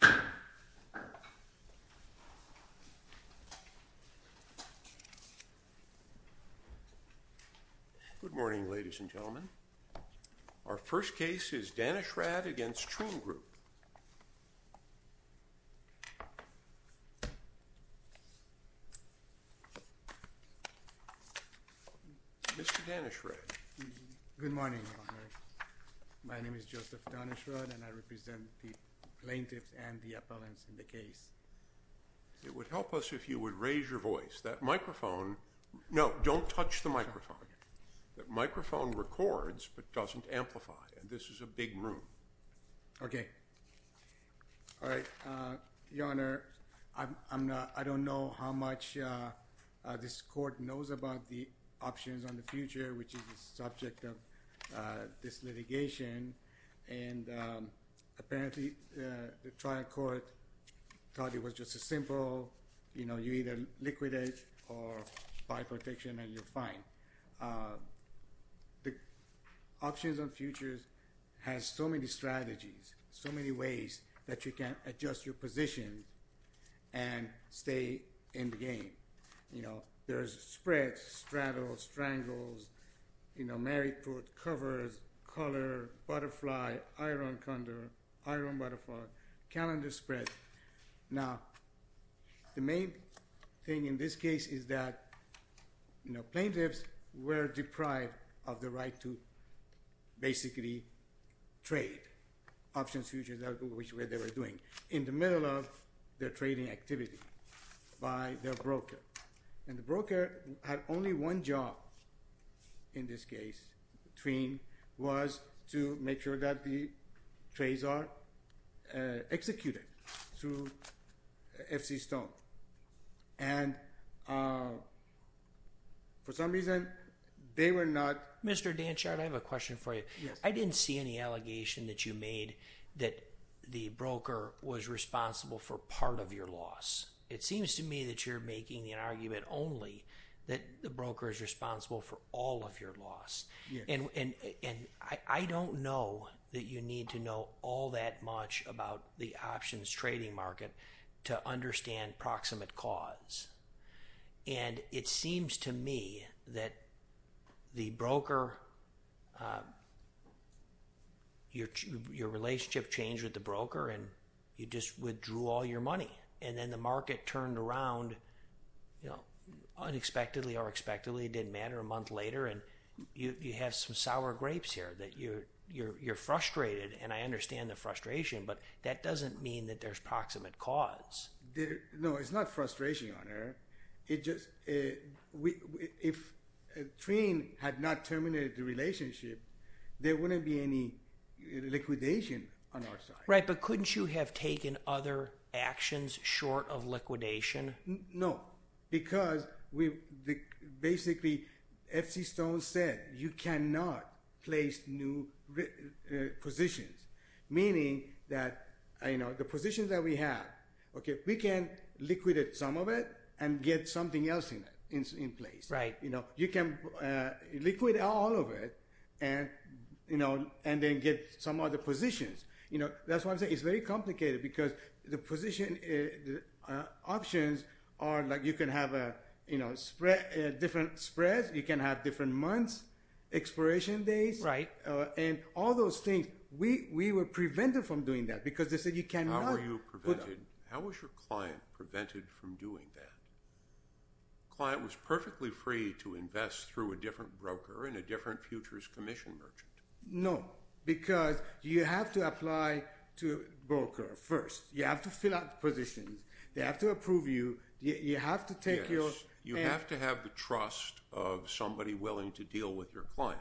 Good morning, ladies and gentlemen. Our first case is Daneshrad v. Trean Group. Mr. Daneshrad. Good morning, Your Honor. My name is Joseph Daneshrad, and I represent the plaintiffs and the appellants in the case. It would help us if you would raise your voice. That microphone – no, don't touch the microphone. The microphone records but doesn't amplify, and this is a big room. Okay. All right. Your Honor, I'm not – I don't know how much this court knows about the options on the future, which is the subject of this litigation, and apparently the trial court thought it was just a simple, you know, you either liquidate or buy protection and you're fine. The options on futures has so many strategies, so many ways that you can adjust your position and stay in the game. You know, there's spreads, straddles, strangles, you know, Mary Prude, covers, color, butterfly, iron condor, iron butterfly, calendar spread. Now, the main thing in this case is that, you know, plaintiffs were deprived of the right to basically trade options futures, which is what they were doing, in the middle of their trading activity by their broker. And the broker had only one job in this case between – was to make sure that the trades are executed through FC Stone. And for some reason, they were not – Mr. Danchard, I have a question for you. Yes. I didn't see any allegation that you made that the broker was responsible for part of your loss. It seems to me that you're making the argument only that the broker is responsible for all of your loss. And I don't know that you need to know all that much about the options trading market to understand proximate cause. And it seems to me that the broker – your relationship changed with the broker and you just withdrew all your money. And then the market turned around, you know, unexpectedly or expectedly, it didn't matter, a month later. And you have some sour grapes here, that you're frustrated. And I understand the frustration, but that doesn't mean that there's proximate cause. No, it's not frustration on our – it just – if Trien had not terminated the relationship, there wouldn't be any liquidation on our side. Right, but couldn't you have taken other actions short of liquidation? No, because we – basically, F.C. Stone said you cannot place new positions, meaning that, you know, the positions that we have, okay, we can liquidate some of it and get something else in place. Right. You know, you can liquidate all of it and, you know, and then get some other positions. You know, that's why I'm saying it's very complicated because the position options are like you can have a, you know, different spreads. You can have different months, expiration dates. Right. And all those things, we were prevented from doing that because they said you cannot – How were you prevented? How was your client prevented from doing that? The client was perfectly free to invest through a different broker and a different futures commission merchant. No, because you have to apply to a broker first. You have to fill out the positions. They have to approve you. You have to take your – Yes. You have to have the trust of somebody willing to deal with your client.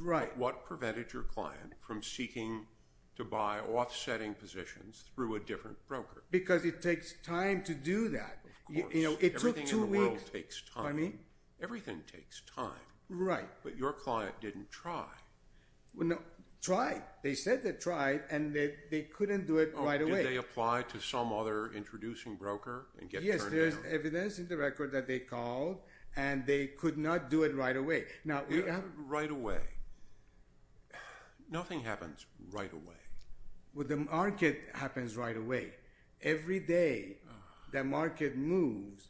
Right. What prevented your client from seeking to buy offsetting positions through a different broker? Because it takes time to do that. Of course. You know, it took two weeks. Everything in the world takes time. Everything takes time. Right. But your client didn't try. Well, no. Tried. They said they tried, and they couldn't do it right away. Oh, did they apply to some other introducing broker and get turned down? Yes, there's evidence in the record that they called, and they could not do it right away. Right away. Nothing happens right away. Well, the market happens right away. Every day, the market moves.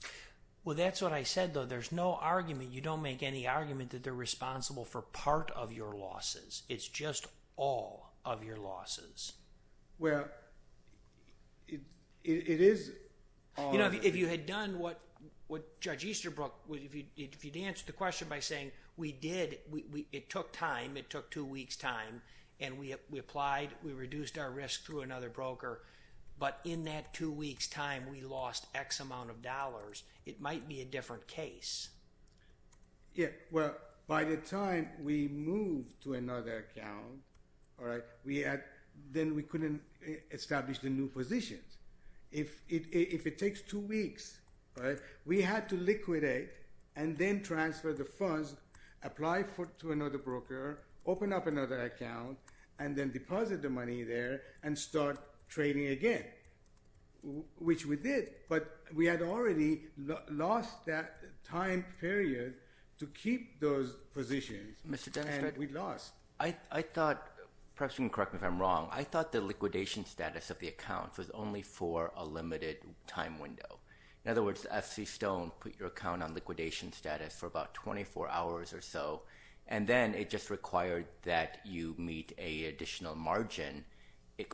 Well, that's what I said, though. There's no argument. You don't make any argument that they're responsible for part of your losses. It's just all of your losses. Well, it is all. You know, if you had done what Judge Easterbrook – if you'd answered the question by saying, we did – it took time. It took two weeks' time. And we applied. We reduced our risk through another broker. But in that two weeks' time, we lost X amount of dollars. It might be a different case. Yeah. Well, by the time we moved to another account, then we couldn't establish the new positions. If it takes two weeks, we had to liquidate and then transfer the funds, apply to another broker, open up another account, and then deposit the money there and start trading again, which we did. But we had already lost that time period to keep those positions, and we lost. I thought – perhaps you can correct me if I'm wrong – I thought the liquidation status of the account was only for a limited time window. In other words, FC Stone put your account on liquidation status for about 24 hours or so, and then it just required that you meet an additional margin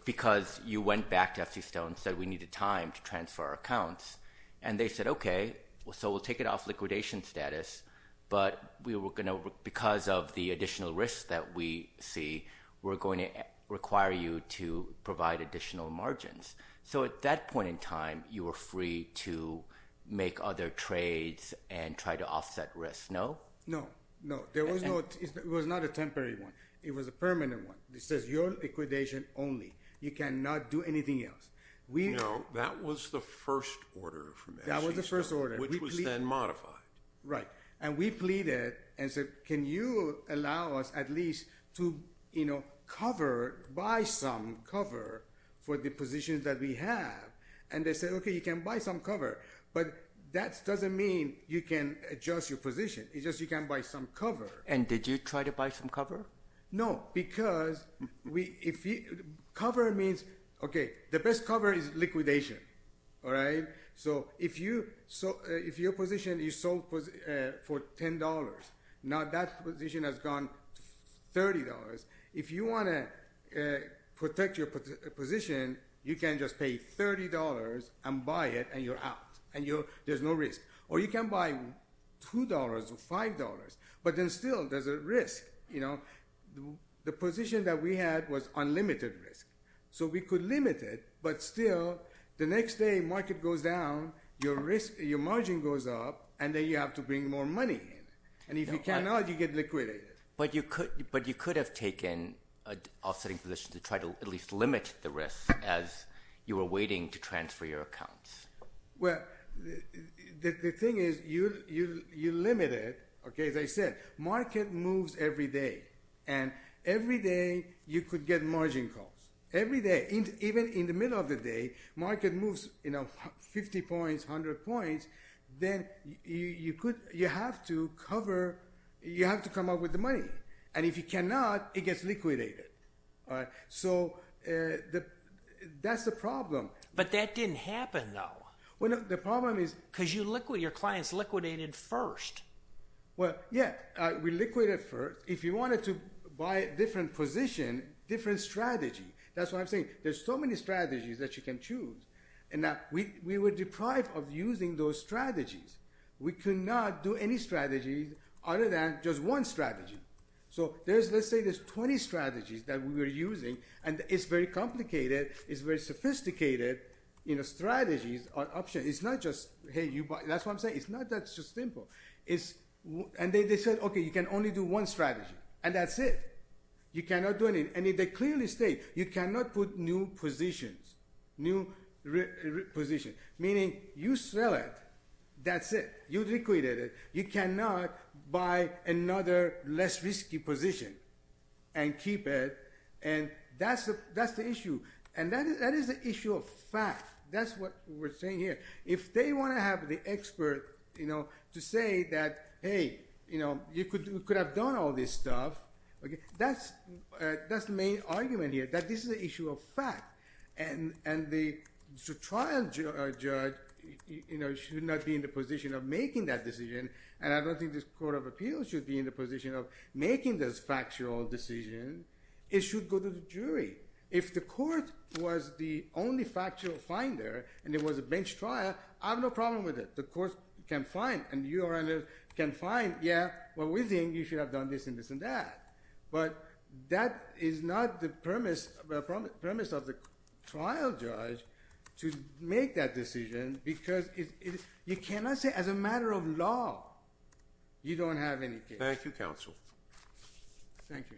because you went back to FC Stone and said we needed time to transfer our accounts. And they said, okay, so we'll take it off liquidation status, but we were going to – because of the additional risk that we see, we're going to require you to provide additional margins. So at that point in time, you were free to make other trades and try to offset risk, no? No, no. There was no – it was not a temporary one. It was a permanent one. It says you're liquidation only. You cannot do anything else. No, that was the first order from FC Stone. That was the first order. Which was then modified. Right. And we pleaded and said, can you allow us at least to, you know, cover, buy some cover for the positions that we have? And they said, okay, you can buy some cover, but that doesn't mean you can adjust your position. It's just you can buy some cover. And did you try to buy some cover? No, because cover means – okay, the best cover is liquidation. All right? So if your position is sold for $10, now that position has gone $30. If you want to protect your position, you can just pay $30 and buy it, and you're out. There's no risk. Or you can buy $2 or $5, but then still there's a risk, you know. The position that we had was unlimited risk. So we could limit it, but still the next day market goes down, your margin goes up, and then you have to bring more money in. And if you cannot, you get liquidated. But you could have taken an offsetting position to try to at least limit the risk as you were waiting to transfer your accounts. Well, the thing is you limit it, okay, as I said. Market moves every day, and every day you could get margin calls, every day. Even in the middle of the day, market moves 50 points, 100 points, then you have to cover – you have to come up with the money. And if you cannot, it gets liquidated. All right? So that's the problem. But that didn't happen, though. Well, no, the problem is – Because you liquid – your clients liquidated first. Well, yeah, we liquidated first. If you wanted to buy a different position, different strategy. That's what I'm saying. There's so many strategies that you can choose. And we were deprived of using those strategies. We could not do any strategies other than just one strategy. So let's say there's 20 strategies that we were using, and it's very complicated, it's very sophisticated, you know, strategies are options. It's not just, hey, you buy – that's what I'm saying. It's not that it's just simple. And they said, okay, you can only do one strategy, and that's it. You cannot do anything. And they clearly state you cannot put new positions, new positions, meaning you sell it, that's it. You liquidated it. You cannot buy another less risky position and keep it, and that's the issue. And that is the issue of fact. That's what we're saying here. If they want to have the expert, you know, to say that, hey, you know, you could have done all this stuff, that's the main argument here, that this is an issue of fact. And the trial judge, you know, should not be in the position of making that decision, and I don't think this Court of Appeals should be in the position of making this factual decision. It should go to the jury. If the court was the only factual finder and there was a bench trial, I have no problem with it. The court can find and you can find, yeah, well, we think you should have done this and this and that. But that is not the premise of the trial judge to make that decision because you cannot say as a matter of law you don't have any case. Thank you, counsel. Thank you.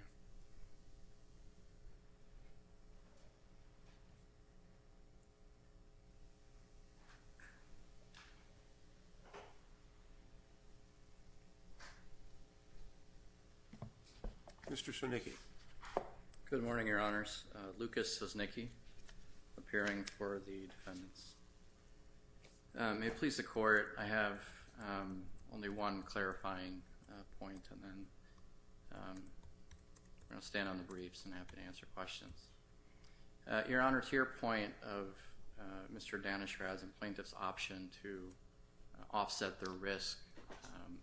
Mr. Sosnicki. Good morning, Your Honors. Lucas Sosnicki, appearing for the defendants. May it please the Court, I have only one clarifying point and then I'm going to stand on the briefs and have to answer questions. Your Honor, to your point of Mr. Danishra's and plaintiff's option to offset their risk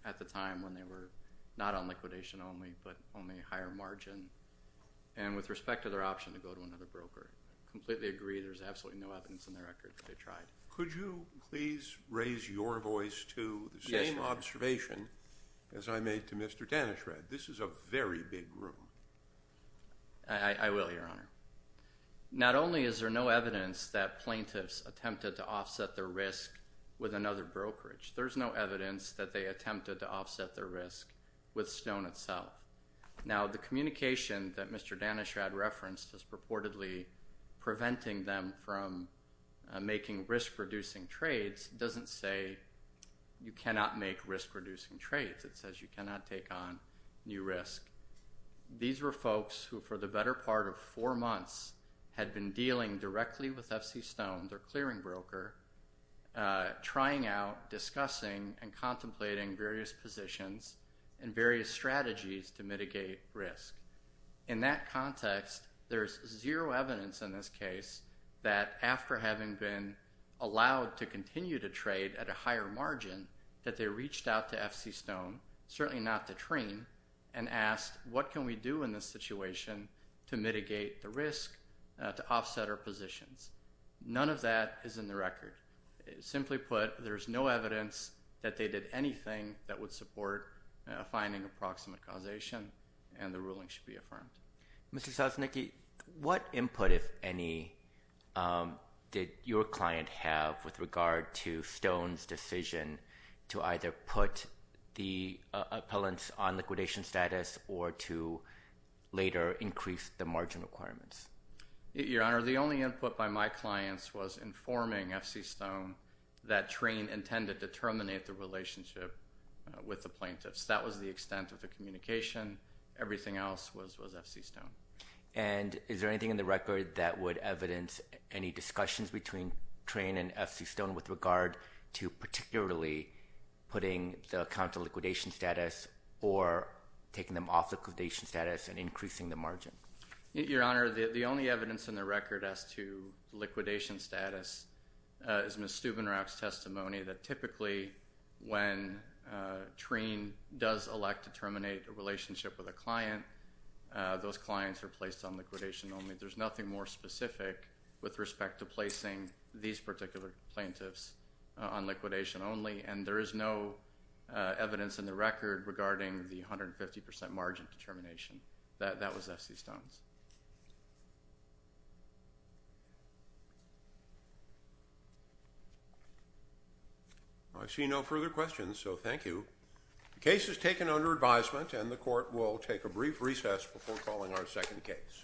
at the time when they were not on liquidation only but only a higher margin, and with respect to their option to go to another broker, I completely agree there's absolutely no evidence in the record that they tried. Could you please raise your voice to the same observation as I made to Mr. Danishra? This is a very big room. I will, Your Honor. Not only is there no evidence that plaintiffs attempted to offset their risk with another brokerage, there's no evidence that they attempted to offset their risk with Stone itself. Now, the communication that Mr. Danishra had referenced as purportedly preventing them from making risk-reducing trades doesn't say you cannot make risk-reducing trades. It says you cannot take on new risk. These were folks who, for the better part of four months, had been dealing directly with F.C. Stone, their clearing broker, trying out, discussing, and contemplating various positions and various strategies to mitigate risk. In that context, there's zero evidence in this case that after having been allowed to continue to trade at a higher margin that they reached out to F.C. Stone, certainly not to Trane, and asked what can we do in this situation to mitigate the risk, to offset our positions. None of that is in the record. Simply put, there's no evidence that they did anything that would support finding approximate causation and the ruling should be affirmed. Mr. Sosnicki, what input, if any, did your client have with regard to Stone's decision to either put the appellants on liquidation status or to later increase the margin requirements? Your Honor, the only input by my clients was informing F.C. Stone that Trane intended to terminate the relationship with the plaintiffs. That was the extent of the communication. Everything else was F.C. Stone. And is there anything in the record that would evidence any discussions between Trane and F.C. Stone with regard to particularly putting the account to liquidation status or taking them off liquidation status and increasing the margin? Your Honor, the only evidence in the record as to liquidation status is Ms. Steubenrauch's testimony that typically when Trane does elect to terminate a relationship with a client, those clients are placed on liquidation only. There's nothing more specific with respect to placing these particular plaintiffs on liquidation only, and there is no evidence in the record regarding the 150% margin determination. That was F.C. Stone's. I see no further questions, so thank you. The case is taken under advisement, and the Court will take a brief recess before calling our second case.